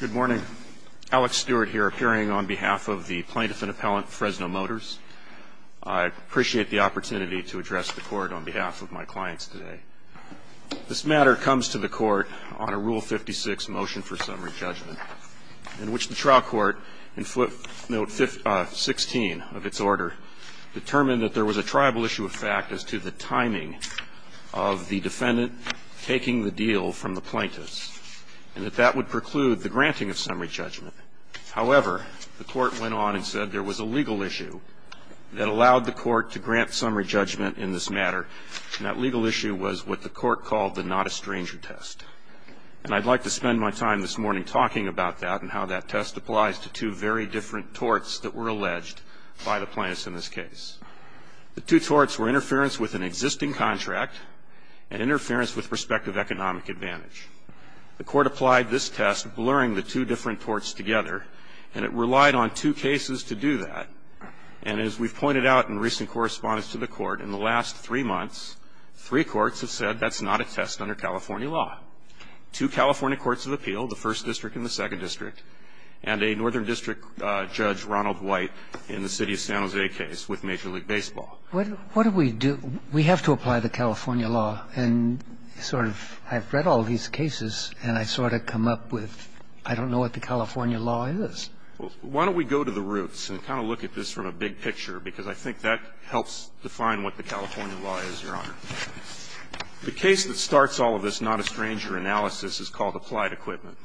Good morning. Alex Stewart here, appearing on behalf of the plaintiff and appellant Fresno Motors. I appreciate the opportunity to address the court on behalf of my clients today. This matter comes to the court on a Rule 56 motion for summary judgment, in which the trial court, in footnote 16 of its order, determined that there was a triable issue of fact as to the timing of the defendant taking the deal from the plaintiffs, and that that would preclude the granting of summary judgment. However, the court went on and said there was a legal issue that allowed the court to grant summary judgment in this matter, and that legal issue was what the court called the not-a-stranger test. And I'd like to spend my time this morning talking about that and how that test applies to two very different torts that were alleged by the plaintiffs in this case. The two torts were interference with an existing contract and interference with prospective economic advantage. The court applied this test, blurring the two different torts together, and it relied on two cases to do that. And as we've pointed out in recent correspondence to the court, in the last three months, three courts have said that's not a test under California law. Two California courts of appeal, the First District and the Second District, and a Northern District judge, Ronald White, in the city of San Jose case with Major League Baseball. What do we do? We have to apply the California law. And sort of I've read all these cases, and I sort of come up with I don't know what the California law is. Well, why don't we go to the roots and kind of look at this from a big picture, because I think that helps define what the California law is, Your Honor. The case that starts all of this not-a-stranger analysis is called Applied Equipment.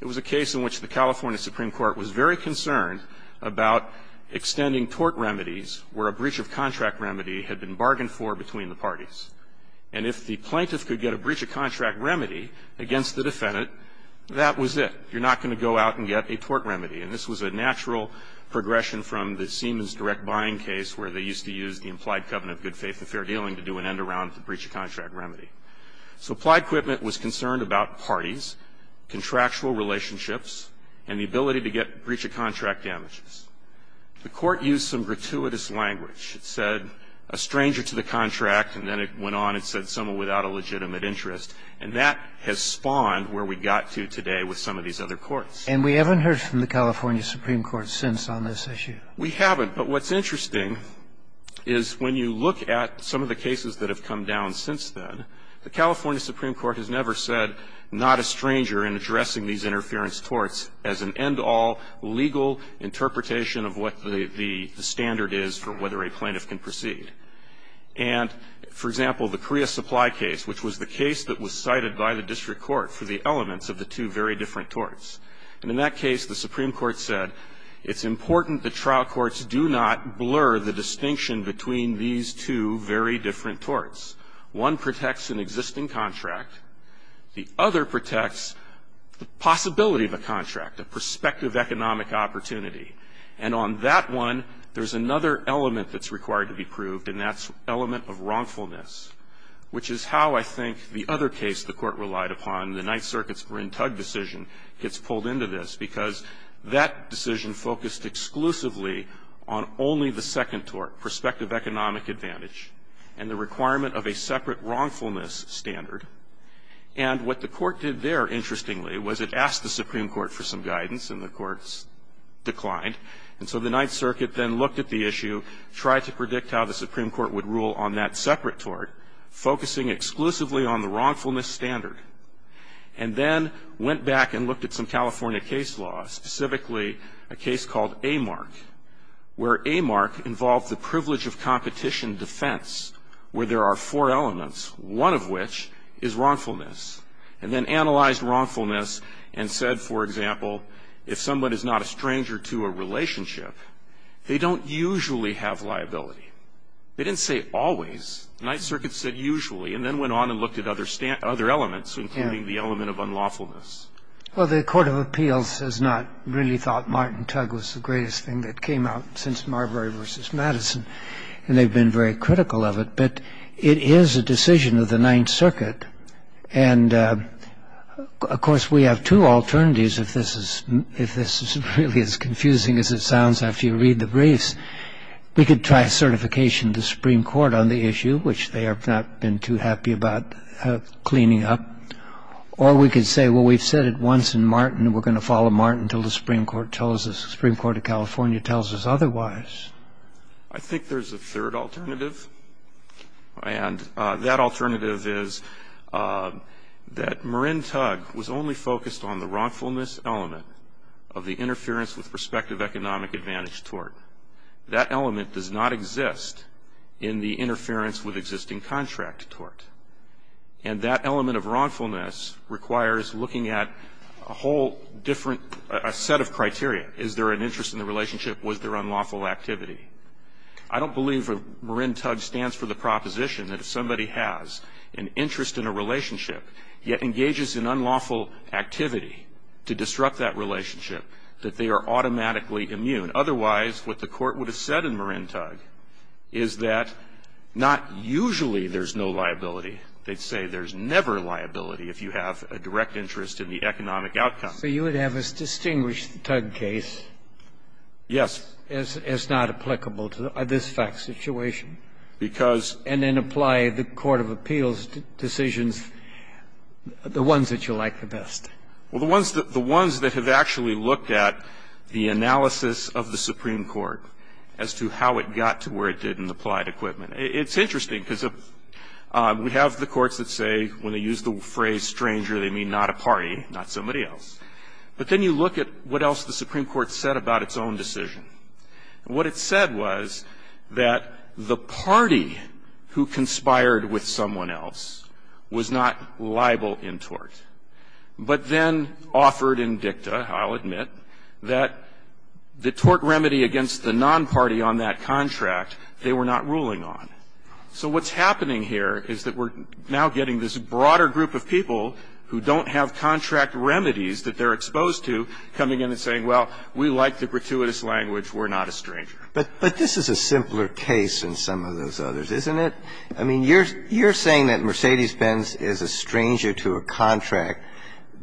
It was a case in which the California Supreme Court was very concerned about extending tort remedies where a breach of contract remedy had been bargained for between the parties. And if the plaintiff could get a breach of contract remedy against the defendant, that was it. You're not going to go out and get a tort remedy. And this was a natural progression from the Siemens direct buying case where they used to use the implied covenant of good faith and fair dealing to do an end-around breach of contract remedy. So Applied Equipment was concerned about parties, contractual relationships, and the ability to get breach of contract damages. The Court used some gratuitous language. It said a stranger to the contract, and then it went on and said someone without a legitimate interest. And that has spawned where we got to today with some of these other courts. And we haven't heard from the California Supreme Court since on this issue. We haven't. But what's interesting is when you look at some of the cases that have come down since then, the California Supreme Court has never said not a stranger in addressing these interference torts as an end-all legal interpretation of what the standard is for whether a plaintiff can proceed. And, for example, the Korea Supply case, which was the case that was cited by the district court for the elements of the two very different torts. And in that case, the Supreme Court said it's important that trial courts do not blur the distinction between these two very different torts. One protects an existing contract. The other protects the possibility of a contract, a prospective economic opportunity. And on that one, there's another element that's required to be proved, and that's element of wrongfulness, which is how, I think, the other case the Court relied upon, the Ninth Circuit's Rintug decision, gets pulled into this. Because that decision focused exclusively on only the second tort, prospective economic advantage, and the requirement of a separate wrongfulness standard. And what the Court did there, interestingly, was it asked the Supreme Court for some guidance, and the Court declined. And so the Ninth Circuit then looked at the issue, tried to predict how the Supreme And then went back and looked at some California case law, specifically a case called AMARC. Where AMARC involved the privilege of competition defense, where there are four elements, one of which is wrongfulness. And then analyzed wrongfulness and said, for example, if someone is not a stranger to a relationship, they don't usually have liability. They didn't say always. The Ninth Circuit said usually, and then went on and looked at other elements, including the element of unlawfulness. Well, the Court of Appeals has not really thought Martin Tug was the greatest thing that came out since Marbury v. Madison. And they've been very critical of it. But it is a decision of the Ninth Circuit. And, of course, we have two alternatives, if this is really as confusing as it sounds after you read the briefs. We could try certification to the Supreme Court on the issue, which they have not been too happy about cleaning up. Or we could say, well, we've said it once in Martin, and we're going to follow Martin until the Supreme Court tells us, the Supreme Court of California tells us otherwise. I think there's a third alternative. And that alternative is that Marin Tug was only focused on the wrongfulness element of the interference with prospective economic advantage tort. That element does not exist in the interference with existing contract tort. And that element of wrongfulness requires looking at a whole different set of criteria. Is there an interest in the relationship? Was there unlawful activity? I don't believe Marin Tug stands for the proposition that if somebody has an unlawful activity to disrupt that relationship, that they are automatically immune. Otherwise, what the Court would have said in Marin Tug is that not usually there's no liability. They'd say there's never liability if you have a direct interest in the economic outcome. So you would have us distinguish the Tug case. Yes. As not applicable to this fact situation. Because. And then apply the court of appeals decisions, the ones that you like the best. Well, the ones that have actually looked at the analysis of the Supreme Court as to how it got to where it did and applied equipment. It's interesting because we have the courts that say when they use the phrase stranger, they mean not a party, not somebody else. But then you look at what else the Supreme Court said about its own decision. And what it said was that the party who conspired with someone else was not liable in tort. But then offered in dicta, I'll admit, that the tort remedy against the non-party on that contract they were not ruling on. So what's happening here is that we're now getting this broader group of people who don't have contract remedies that they're exposed to coming in and saying, well, we like the gratuitous language, we're not a stranger. But this is a simpler case than some of those others, isn't it? I mean, you're saying that Mercedes-Benz is a stranger to a contract,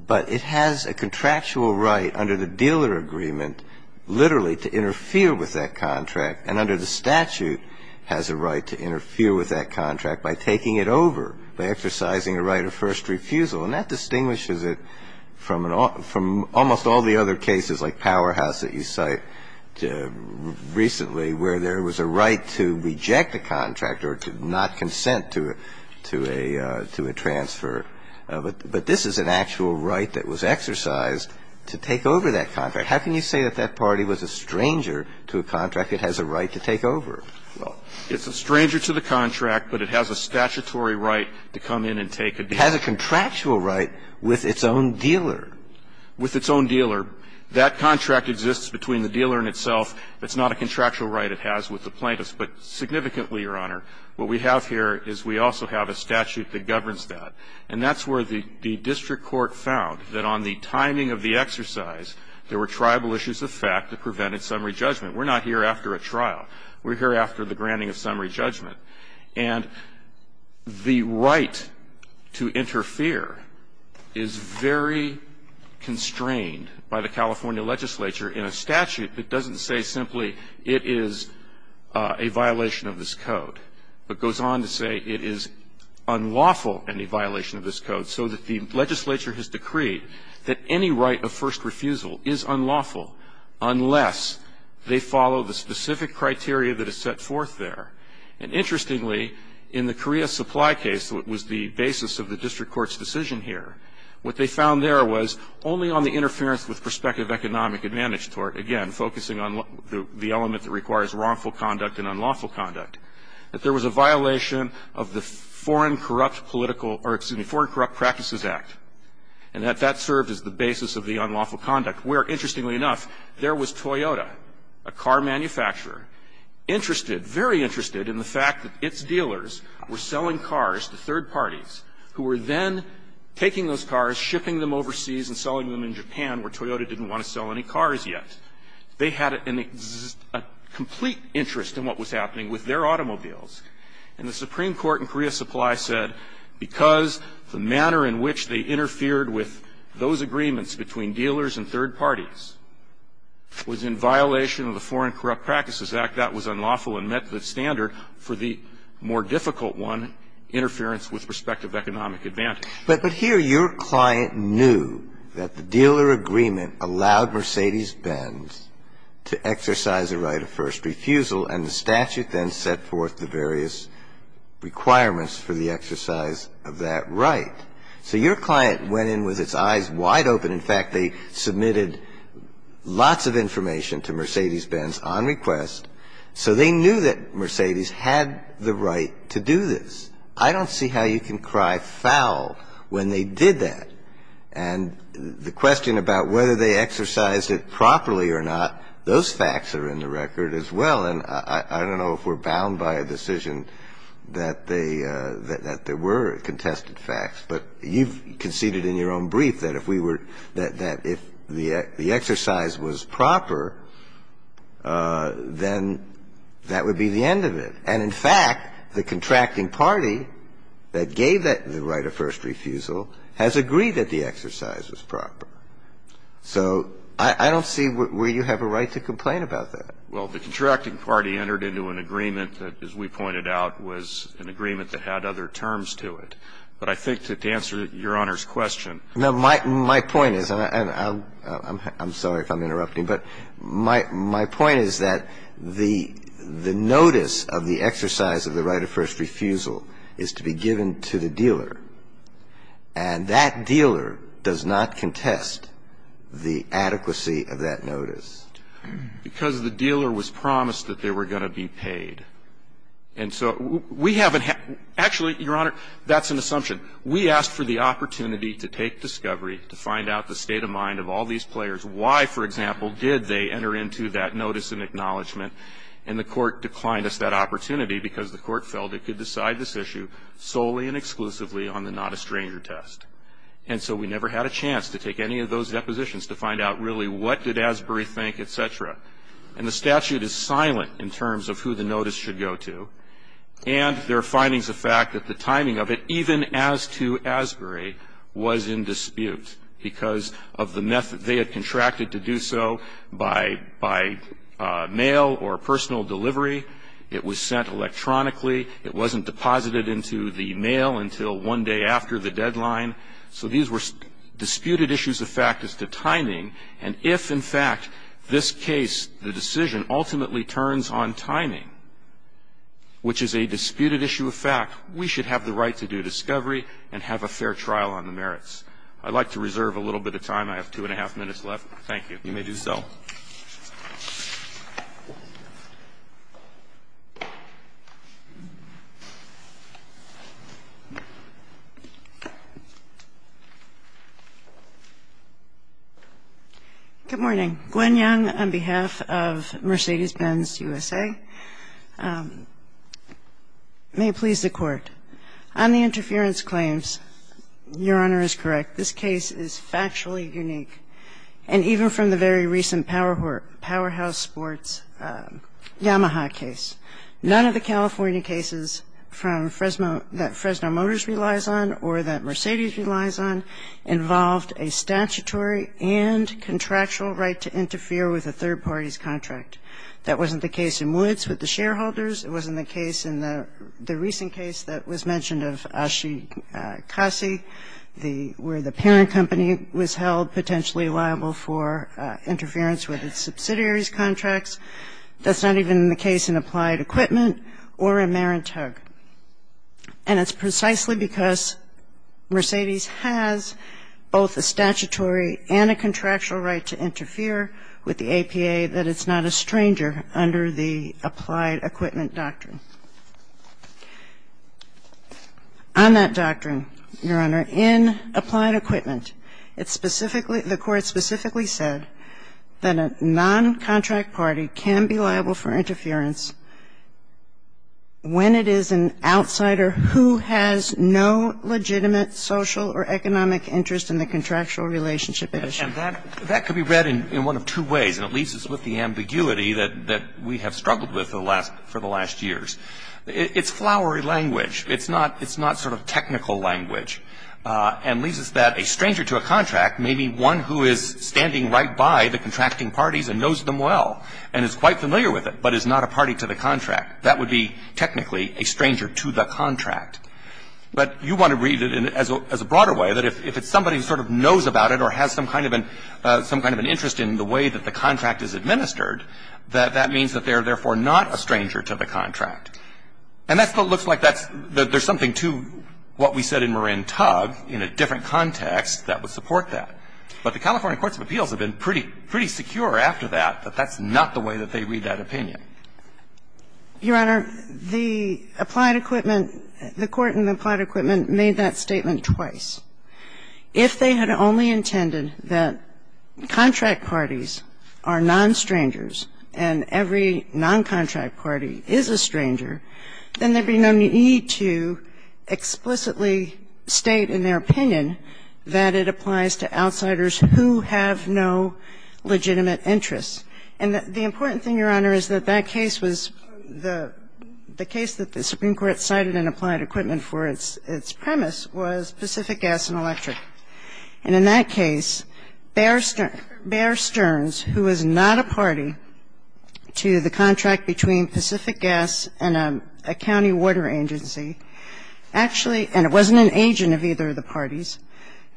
but it has a contractual right under the dealer agreement literally to interfere with that contract and under the statute has a right to interfere with that contract by taking it over, by exercising a right of first refusal. And that distinguishes it from almost all the other cases like Powerhouse that you cite recently where there was a right to reject a contract or to not consent to a transfer. But this is an actual right that was exercised to take over that contract. How can you say that that party was a stranger to a contract that has a right to take over? Well, it's a stranger to the contract, but it has a statutory right to come in and take a deal. It has a contractual right with its own dealer. With its own dealer. That contract exists between the dealer and itself. It's not a contractual right it has with the plaintiff. But significantly, Your Honor, what we have here is we also have a statute that governs that. And that's where the district court found that on the timing of the exercise, there were tribal issues of fact that prevented summary judgment. We're not here after a trial. We're here after the granting of summary judgment. And the right to interfere is very constrained by the California legislature in a statute that doesn't say simply it is a violation of this code, but goes on to say it is unlawful, any violation of this code, so that the legislature has decreed that any right of first refusal is unlawful unless they follow the specific criteria that is set forth there. And interestingly, in the Korea supply case, what was the basis of the district court's decision here, what they found there was only on the interference with prospective economic advantage tort, again, focusing on the element that requires wrongful conduct and unlawful conduct, that there was a violation of the Foreign Corrupt Practices Act. And that that served as the basis of the unlawful conduct. Where, interestingly enough, there was Toyota, a car manufacturer, interested, very interested in the fact that its dealers were selling cars to third parties who were then taking those cars, shipping them overseas, and selling them in Japan where Toyota didn't want to sell any cars yet. They had a complete interest in what was happening with their automobiles. And the Supreme Court in Korea supply said because the manner in which they interfered with those agreements between dealers and third parties was in violation of the Foreign Corrupt Practices Act, that was unlawful and met the standard for the more difficult one, interference with prospective economic advantage. But here your client knew that the dealer agreement allowed Mercedes-Benz to exercise a right of first refusal, and the statute then set forth the various requirements for the exercise of that right. So your client went in with its eyes wide open. In fact, they submitted lots of information to Mercedes-Benz on request. So they knew that Mercedes had the right to do this. I don't see how you can cry foul when they did that. And the question about whether they exercised it properly or not, those facts are in the record as well. And I don't know if we're bound by a decision that they – that there were contested facts, but you conceded in your own brief that if we were – that if the exercise was proper, then that would be the end of it. And in fact, the contracting party that gave that right of first refusal has agreed that the exercise was proper. So I don't see where you have a right to complain about that. Well, the contracting party entered into an agreement that, as we pointed out, was an agreement that had other terms to it. But I think to answer Your Honor's question – No, my point is – and I'm sorry if I'm interrupting, but my point is that the notice of the exercise of the right of first refusal is to be given to the dealer. And that dealer does not contest the adequacy of that notice. Because the dealer was promised that they were going to be paid. And so we haven't – actually, Your Honor, that's an assumption. We asked for the opportunity to take discovery, to find out the state of mind of all these players. Why, for example, did they enter into that notice of acknowledgement? And the Court declined us that opportunity because the Court felt it could decide this issue solely and exclusively on the not a stranger test. And so we never had a chance to take any of those depositions to find out really what did Asbury think, et cetera. And the statute is silent in terms of who the notice should go to. And there are findings of fact that the timing of it, even as to Asbury, was in dispute because of the method. They had contracted to do so by mail or personal delivery. It was sent electronically. It wasn't deposited into the mail until one day after the deadline. So these were disputed issues of fact as to timing. And if, in fact, this case, the decision ultimately turns on timing, which is a disputed issue of fact, we should have the right to do discovery and have a fair trial on the merits. I'd like to reserve a little bit of time. I have two and a half minutes left. Thank you. You may do so. Good morning. Gwen Young on behalf of Mercedes-Benz USA. May it please the Court. On the interference claims, Your Honor is correct. This case is factually unique. And even from the very recent powerhouse sports Yamaha case, none of the California cases from Fresno that Fresno Motors relies on or that Mercedes relies on involved a statutory and contractual right to interfere with a third party's contract. That wasn't the case in Woods with the shareholders. It wasn't the case in the recent case that was mentioned of Ashi Kasi where the parent company was held potentially liable for interference with its subsidiary's contracts. That's not even the case in Applied Equipment or in Marantug. And it's precisely because Mercedes has both a statutory and a contractual right to interfere with the APA that it's not a stranger under the Applied Equipment doctrine. On that doctrine, Your Honor, in Applied Equipment, it specifically, the Court specifically said that a noncontract party can be liable for interference when it is an outsider who has no legitimate social or economic interest in the contractual relationship at issue. And that could be read in one of two ways, and it leaves us with the ambiguity that we have struggled with for the last years. It's flowery language. It's not sort of technical language and leaves us that a stranger to a contract may be one who is standing right by the contracting parties and knows them well and is quite familiar with it, but is not a party to the contract. That would be technically a stranger to the contract. But you want to read it as a broader way, that if it's somebody who sort of knows about it or has some kind of an interest in the way that the contract is administered, that that means that they are therefore not a stranger to the contract. And that still looks like that's there's something to what we said in Marin Tugg in a different context that would support that. But the California courts of appeals have been pretty secure after that that that's not the way that they read that opinion. Your Honor, the Applied Equipment, the Court in Applied Equipment made that statement twice. If they had only intended that contract parties are non-strangers and every non-contract party is a stranger, then there would be no need to explicitly state in their opinion that it applies to outsiders who have no legitimate interests. And the important thing, Your Honor, is that that case was the case that the Supreme Court ruled in the case of Pacific Gas and Electric. And in that case, Bear Stearns, who is not a party to the contract between Pacific Gas and a county water agency, actually, and it wasn't an agent of either of the parties,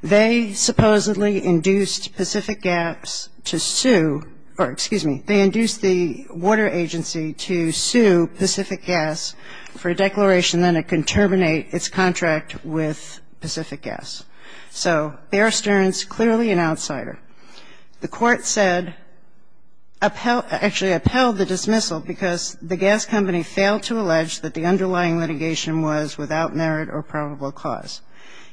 they supposedly induced Pacific Gas to sue or, excuse me, they induced the water agency to sue Pacific Gas for a declaration that it could terminate its contract with Pacific Gas. So Bear Stearns, clearly an outsider. The Court said upheld the dismissal because the gas company failed to allege that the underlying litigation was without merit or probable cause.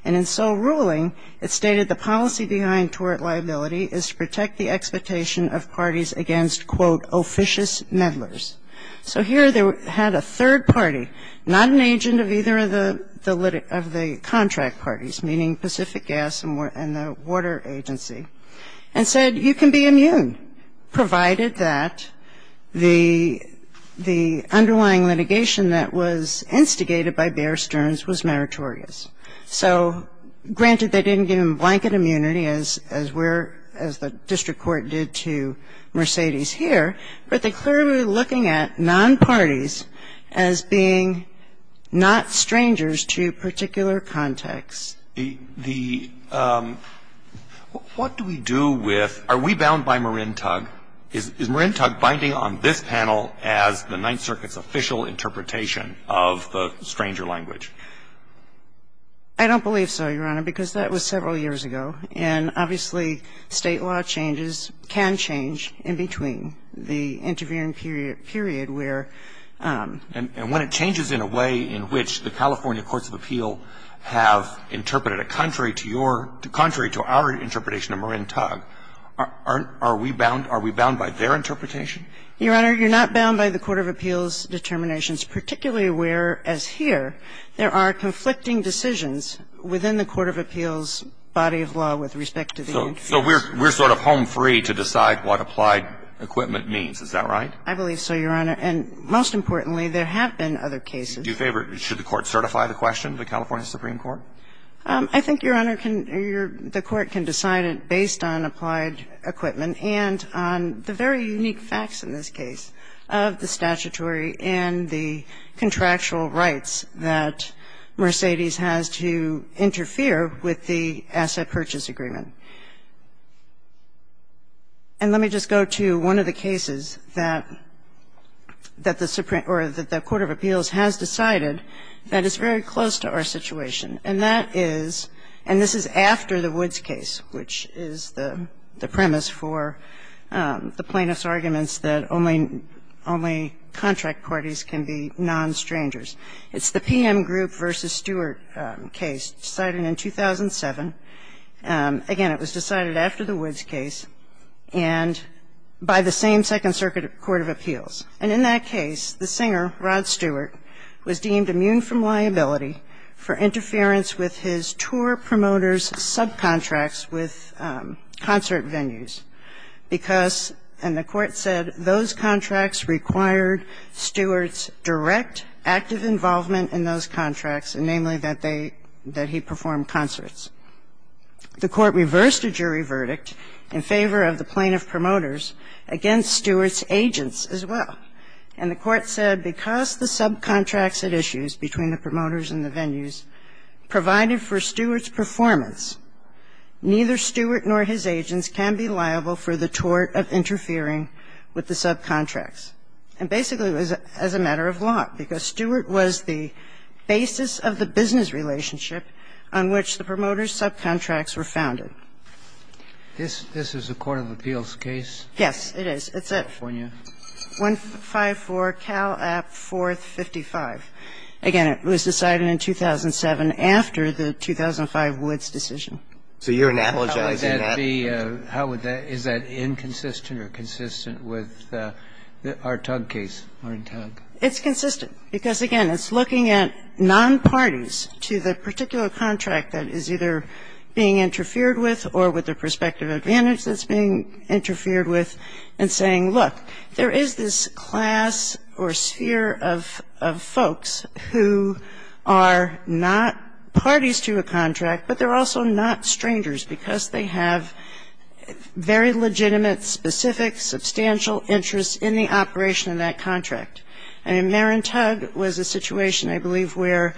And in sole ruling, it stated the policy behind tort liability is to protect the expectation of parties against, quote, officious meddlers. So here they had a third party, not an agent of either of the contract parties, meaning Pacific Gas and the water agency, and said you can be immune, provided that the underlying litigation that was instigated by Bear Stearns was meritorious. So granted they didn't give him blanket immunity as we're, as the district court did to Mercedes here, but they clearly were looking at non-parties as being not strangers to particular contexts. The, what do we do with, are we bound by Marin Tug? Is Marin Tug binding on this panel as the Ninth Circuit's official interpretation of the stranger language? I don't believe so, Your Honor, because that was several years ago. And obviously, State law changes, can change in between the intervening period where the. And when it changes in a way in which the California courts of appeal have interpreted a contrary to your, contrary to our interpretation of Marin Tug, are we bound, are we bound by their interpretation? Your Honor, you're not bound by the court of appeals determinations, particularly where, as here, there are conflicting decisions within the court of appeals' body of law with respect to the. So we're, we're sort of home free to decide what applied equipment means, is that right? I believe so, Your Honor. And most importantly, there have been other cases. Do you favor, should the Court certify the question, the California Supreme Court? I think, Your Honor, the Court can decide it based on applied equipment and on the very unique facts in this case of the statutory and the contractual rights that Mercedes has to interfere with the asset purchase agreement. And let me just go to one of the cases that, that the Supreme, or the court of appeals has decided that is very close to our situation, and that is, and this is after the Woods case, which is the premise for the plaintiff's arguments that only, only contract parties can be non-strangers. It's the PM Group v. Stewart case, decided in 2007. Again, it was decided after the Woods case and by the same Second Circuit Court of Appeals. And in that case, the singer, Rod Stewart, was deemed immune from liability for interference with his tour promoter's subcontracts with concert venues because the court said those contracts required Stewart's direct, active involvement in those contracts, and namely that they, that he performed concerts. The court reversed a jury verdict in favor of the plaintiff promoters against Stewart's agents as well. And the court said because the subcontracts at issues between the promoters and the venues provided for Stewart's performance, neither Stewart nor his agents can be liable for the tort of interfering with the subcontracts. And basically, it was as a matter of law, because Stewart was the basis of the business relationship on which the promoter's subcontracts were founded. This, this is a court of appeals case? Yes, it is. It's a. And it was decided in 2007 after the 2005 Woods decision. So you're analogizing that? How would that be, how would that, is that inconsistent or consistent with our Tug case? Our Tug. It's consistent, because again, it's looking at nonparties to the particular contract that is either being interfered with or with the prospective advantage that's being interfered with, and saying, look, there is this class or sphere of, of folks who are not parties to a contract, but they're also not strangers, because they have very legitimate, specific, substantial interests in the operation of that contract. And Marin Tug was a situation, I believe, where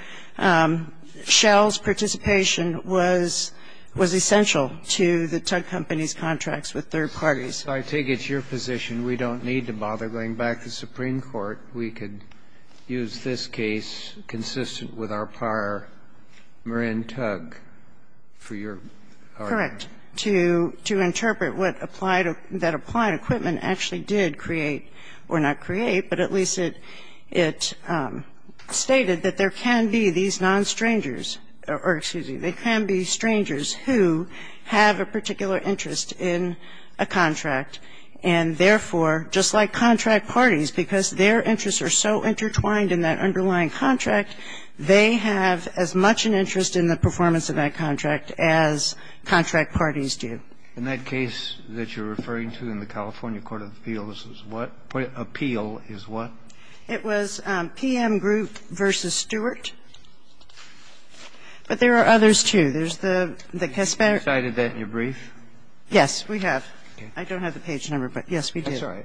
Shell's participation was, was essential to the Tug Company's contracts with third parties. So I take it's your position we don't need to bother going back to Supreme Court. We could use this case consistent with our prior Marin Tug for your argument? Correct. To, to interpret what applied, that applied equipment actually did create, or not create, but at least it, it stated that there can be these nonstrangers, or excuse me, there can be these nonparties who have a particular interest in a contract, and therefore, just like contract parties, because their interests are so intertwined in that underlying contract, they have as much an interest in the performance of that contract as contract parties do. In that case that you're referring to in the California Court of Appeals, what, what appeal is what? It was PM Group v. Stewart. But there are others, too. There's the, the Casparian. You cited that in your brief? Yes, we have. I don't have the page number, but yes, we do. I'm sorry.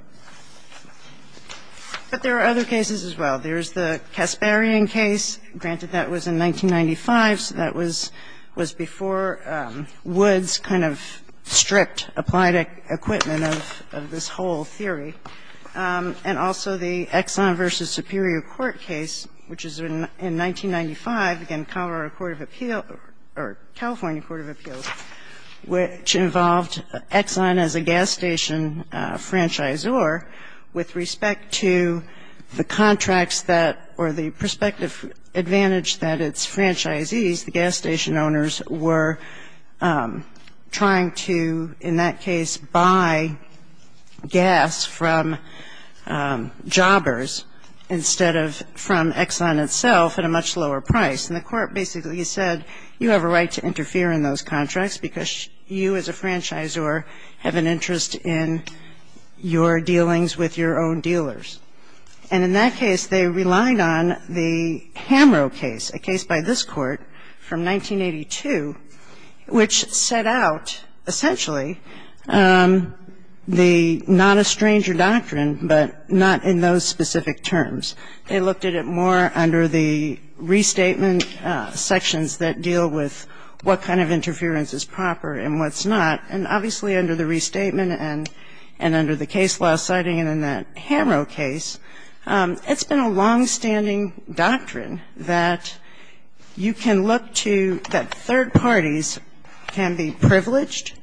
But there are other cases as well. There's the Casparian case. Granted, that was in 1995, so that was, was before Woods kind of stripped applied equipment of, of this whole theory. And also the Exxon v. Superior Court case, which is in, in 1995, again, Colorado Court of Appeal, or California Court of Appeals, which involved Exxon as a gas station franchisor with respect to the contracts that, or the prospective advantage that its franchisees, the gas station owners, were trying to, in that case, buy gas from jobbers instead of from Exxon itself at a much lower price. And the Court basically said, you have a right to interfere in those contracts because you as a franchisor have an interest in your dealings with your own dealers. And in that case, they relied on the Hamro case, a case by this Court from 1982, which set out, essentially, the not a stranger doctrine, but not in those specific terms. They looked at it more under the restatement sections that deal with what kind of interference is proper and what's not, and obviously, under the restatement section and under the case law citing it in that Hamro case, it's been a longstanding doctrine that you can look to, that third parties can be privileged,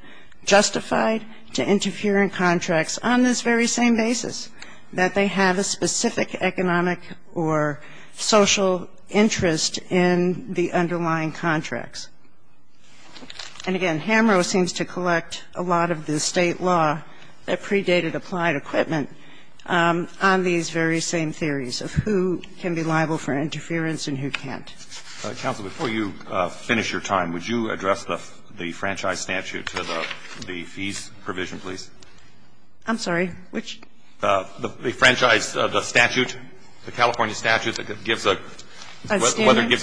justified to interfere in contracts on this very same basis, that they have a specific economic or social interest in the underlying contracts. And, again, Hamro seems to collect a lot of the State law that predated applied equipment on these very same theories of who can be liable for interference and who can't. Alitoso, before you finish your time, would you address the franchise statute, the fees provision, please? I'm sorry, which? The franchise, the statute, the California statute that gives a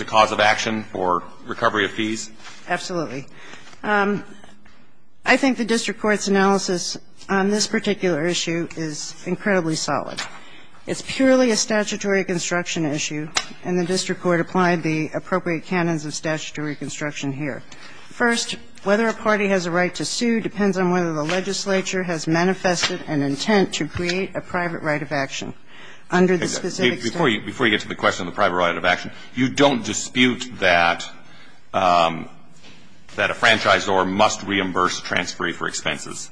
cause of action for recovery of fees? Absolutely. I think the district court's analysis on this particular issue is incredibly solid. It's purely a statutory construction issue, and the district court applied the appropriate canons of statutory construction here. First, whether a party has a right to sue depends on whether the legislature has manifested an intent to create a private right of action under the specific statute. Before you get to the question of the private right of action, you don't dispute that a franchisor must reimburse transferee for expenses?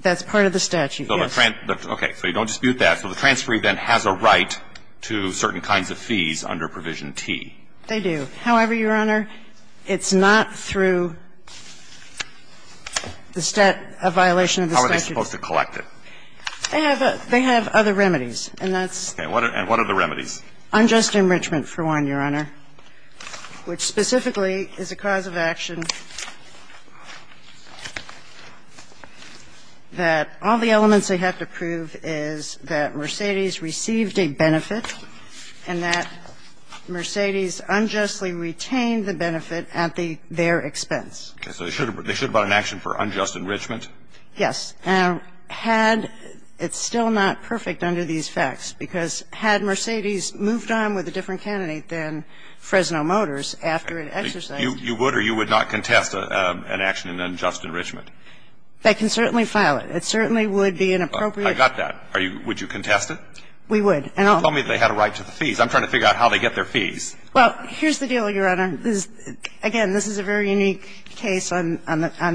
That's part of the statute, yes. Okay. So you don't dispute that. So the transferee then has a right to certain kinds of fees under Provision T. They do. However, Your Honor, it's not through the violation of the statute. How are they supposed to collect it? They have other remedies, and that's unjust enrichment, for one, Your Honor, which specifically is a cause of action that all the elements they have to prove is that Mercedes received a benefit and that Mercedes unjustly retained the benefit at their expense. So they should have brought an action for unjust enrichment? Yes. And had – it's still not perfect under these facts, because had Mercedes moved on with a different candidate than Fresno Motors after it exercised – You would or you would not contest an action in unjust enrichment? They can certainly file it. It certainly would be inappropriate. I got that. Are you – would you contest it? We would. And I'll – You told me they had a right to the fees. I'm trying to figure out how they get their fees. Well, here's the deal, Your Honor. Again, this is a very unique case on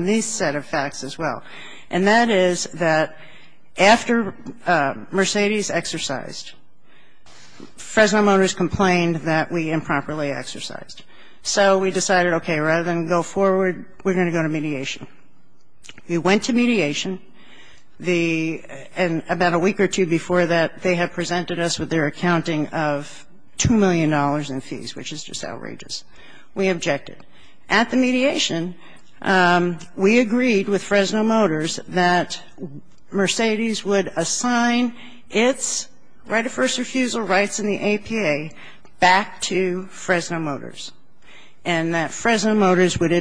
these set of facts as well. And that is that after Mercedes exercised, Fresno Motors complained that we improperly exercised. So we decided, okay, rather than go forward, we're going to go to mediation. We went to mediation. The – and about a week or two before that, they had presented us with their accounting of $2 million in fees, which is just outrageous. We objected. At the mediation, we agreed with Fresno Motors that Mercedes would assign its right of first refusal rights in the APA back to Fresno Motors and that Fresno Motors would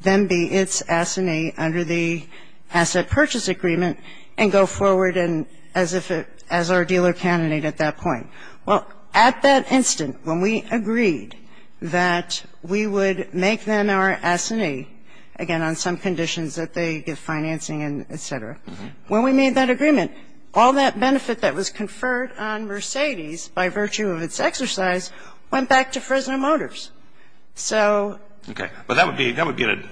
then be its assignee under the asset purchase agreement and go forward as if it – as our dealer candidate at that point. Well, at that instant, when we agreed that we would make them our assignee, again, on some conditions that they get financing and et cetera, when we made that agreement, all that benefit that was conferred on Mercedes by virtue of its exercise went back to Fresno Motors. So – Okay. But that would be – that would be an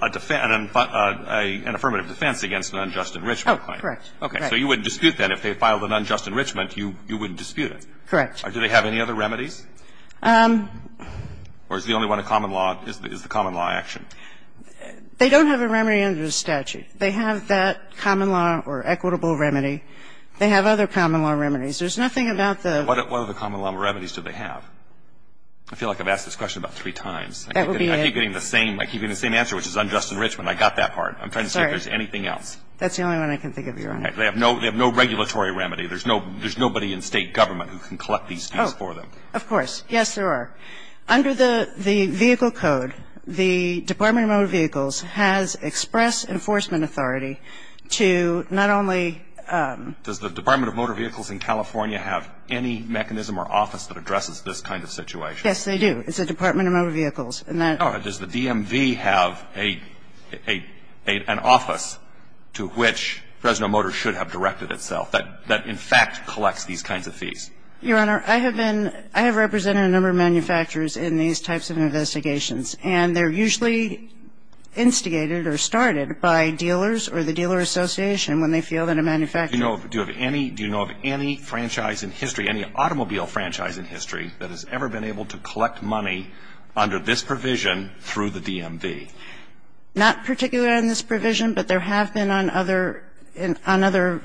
affirmative defense against an unjust enrichment claim. Oh, correct. Okay. So you wouldn't dispute that if they filed an unjust enrichment, you wouldn't dispute it. Correct. Do they have any other remedies? Or is the only one in common law is the common law action? They don't have a remedy under the statute. They have that common law or equitable remedy. They have other common law remedies. There's nothing about the – What other common law remedies do they have? I feel like I've asked this question about three times. That would be a – I keep getting the same – I keep getting the same answer, which is unjust enrichment. I got that part. I'm trying to see if there's anything else. That's the only one I can think of, Your Honor. They have no regulatory remedy. There's no – there's nobody in State government who can collect these fees for them. Oh, of course. Yes, there are. Under the vehicle code, the Department of Motor Vehicles has express enforcement authority to not only – Does the Department of Motor Vehicles in California have any mechanism or office that addresses this kind of situation? Yes, they do. It's the Department of Motor Vehicles. And that – Does the DMV have a – an office to which Fresno Motors should have directed itself? That, in fact, collects these kinds of fees. Your Honor, I have been – I have represented a number of manufacturers in these types of investigations, and they're usually instigated or started by dealers or the dealer association when they feel that a manufacturer – Do you know of – do you have any – do you know of any franchise in history, any automobile franchise in history that has ever been able to collect money under this provision through the DMV? Not particularly on this provision, but there have been on other – on other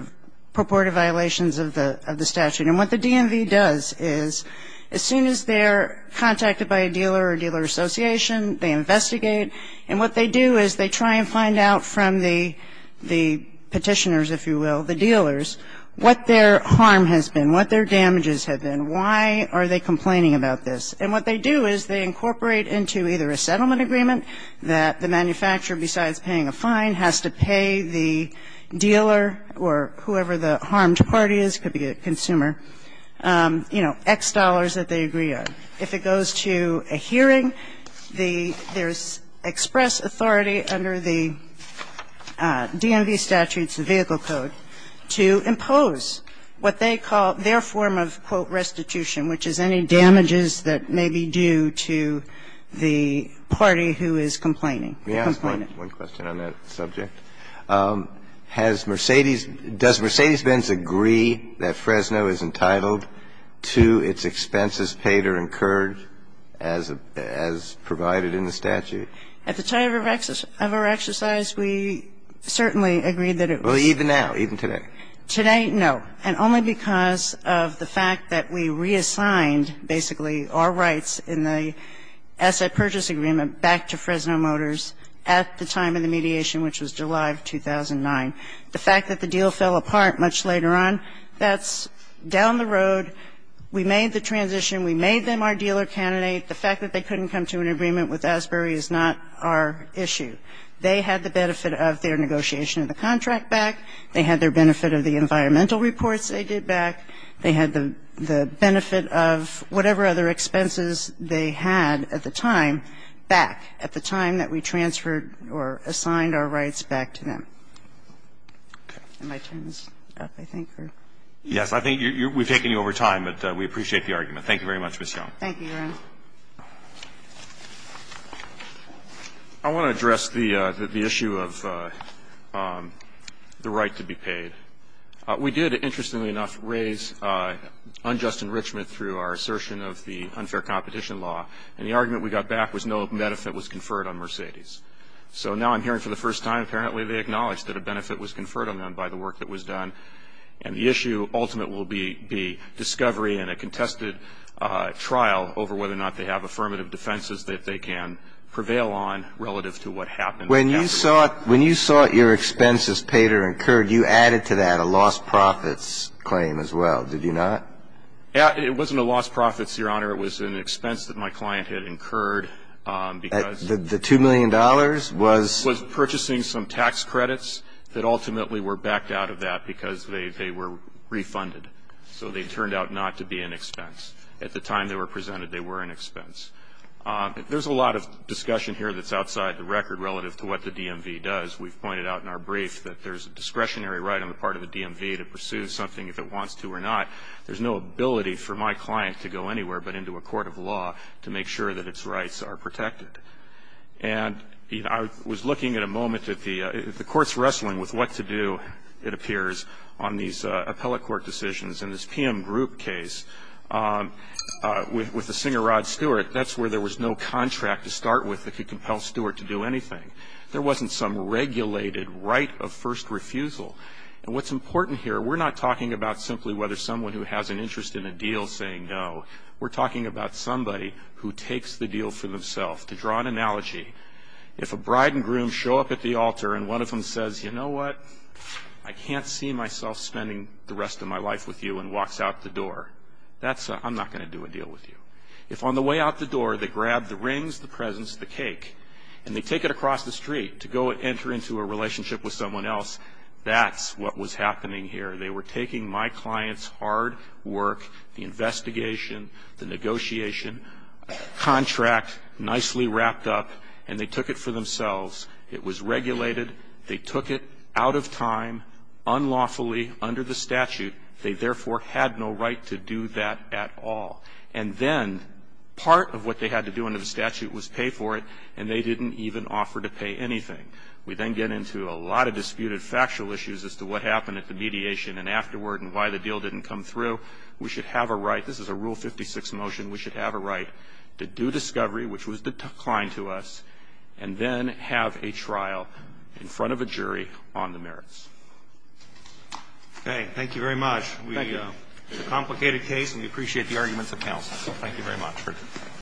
purported violations of the – of the statute. And what the DMV does is, as soon as they're contacted by a dealer or dealer association, they investigate, and what they do is they try and find out from the – the petitioners, if you will, the dealers, what their harm has been, what their damages have been, why are they complaining about this. And what they do is they incorporate into either a settlement agreement that the manufacturer, besides paying a fine, has to pay the dealer or whoever the harmed party is – could be a consumer – you know, X dollars that they agree on. If it goes to a hearing, the – there's express authority under the DMV statutes, the vehicle code, to impose what they call their form of, quote, restitution, which is any damages that may be due to the party who is complaining, the complainant. Let me ask one question on that subject. Has Mercedes – does Mercedes-Benz agree that Fresno is entitled to its expenses paid or incurred as provided in the statute? At the time of our exercise, we certainly agreed that it was. Well, even now, even today? Today, no, and only because of the fact that we reassigned, basically, our rights in the asset purchase agreement back to Fresno Motors at the time of the mediation, which was July of 2009. The fact that the deal fell apart much later on, that's down the road. We made the transition. We made them our dealer candidate. The fact that they couldn't come to an agreement with Asbury is not our issue. They had the benefit of their negotiation of the contract back. They had their benefit of the environmental reports they did back. They had the benefit of whatever other expenses they had at the time back, at the time that we transferred or assigned our rights back to them. Okay. Am I turning this up, I think, or? Yes. I think you're – we've taken you over time, but we appreciate the argument. Thank you very much, Ms. Young. Thank you, Your Honor. I want to address the issue of the right to be paid. We did, interestingly enough, raise unjust enrichment through our assertion of the unfair competition law, and the argument we got back was no benefit was conferred on Mercedes. So now I'm hearing for the first time, apparently, they acknowledged that a benefit was conferred on them by the work that was done, and the issue ultimate will be the discovery and a contested trial over whether or not they have affirmative defenses that they can prevail on relative to what happened. When you sought – when you sought your expenses paid or incurred, you added to that a lost profits claim as well, did you not? It wasn't a lost profits, Your Honor. It was an expense that my client had incurred because – The $2 million was – Was purchasing some tax credits that ultimately were backed out of that because they were refunded. So they turned out not to be an expense. At the time they were presented, they were an expense. There's a lot of discussion here that's outside the record relative to what the DMV does. We've pointed out in our brief that there's a discretionary right on the part of the DMV to pursue something if it wants to or not. There's no ability for my client to go anywhere but into a court of law to make sure that its rights are protected. And I was looking at a moment at the – the court's wrestling with what to do, it appears, on these appellate court decisions. In this PM Group case with the singer Rod Stewart, that's where there was no contract to start with that could compel Stewart to do anything. There wasn't some regulated right of first refusal. And what's important here, we're not talking about simply whether someone who has an interest in a deal is saying no. We're talking about somebody who takes the deal for themselves. To draw an analogy, if a bride and groom show up at the altar and one of them says, you know what, I can't see myself spending the rest of my life with you and walks out the door, that's – I'm not going to do a deal with you. If on the way out the door they grab the rings, the presents, the cake, and they take it across the street to go enter into a relationship with someone else, that's what was happening here. They were taking my client's hard work, the investigation, the negotiation contract nicely wrapped up and they took it for themselves. It was regulated. They took it out of time, unlawfully, under the statute. They therefore had no right to do that at all. And then part of what they had to do under the statute was pay for it and they didn't even offer to pay anything. We then get into a lot of disputed factual issues as to what happened at the mediation and afterward and why the deal didn't come through. We should have a right – this is a Rule 56 motion – we should have a right to do a trial in front of a jury on the merits. Okay. Thank you very much. Thank you. It's a complicated case and we appreciate the arguments of counsel. Thank you. Thank you.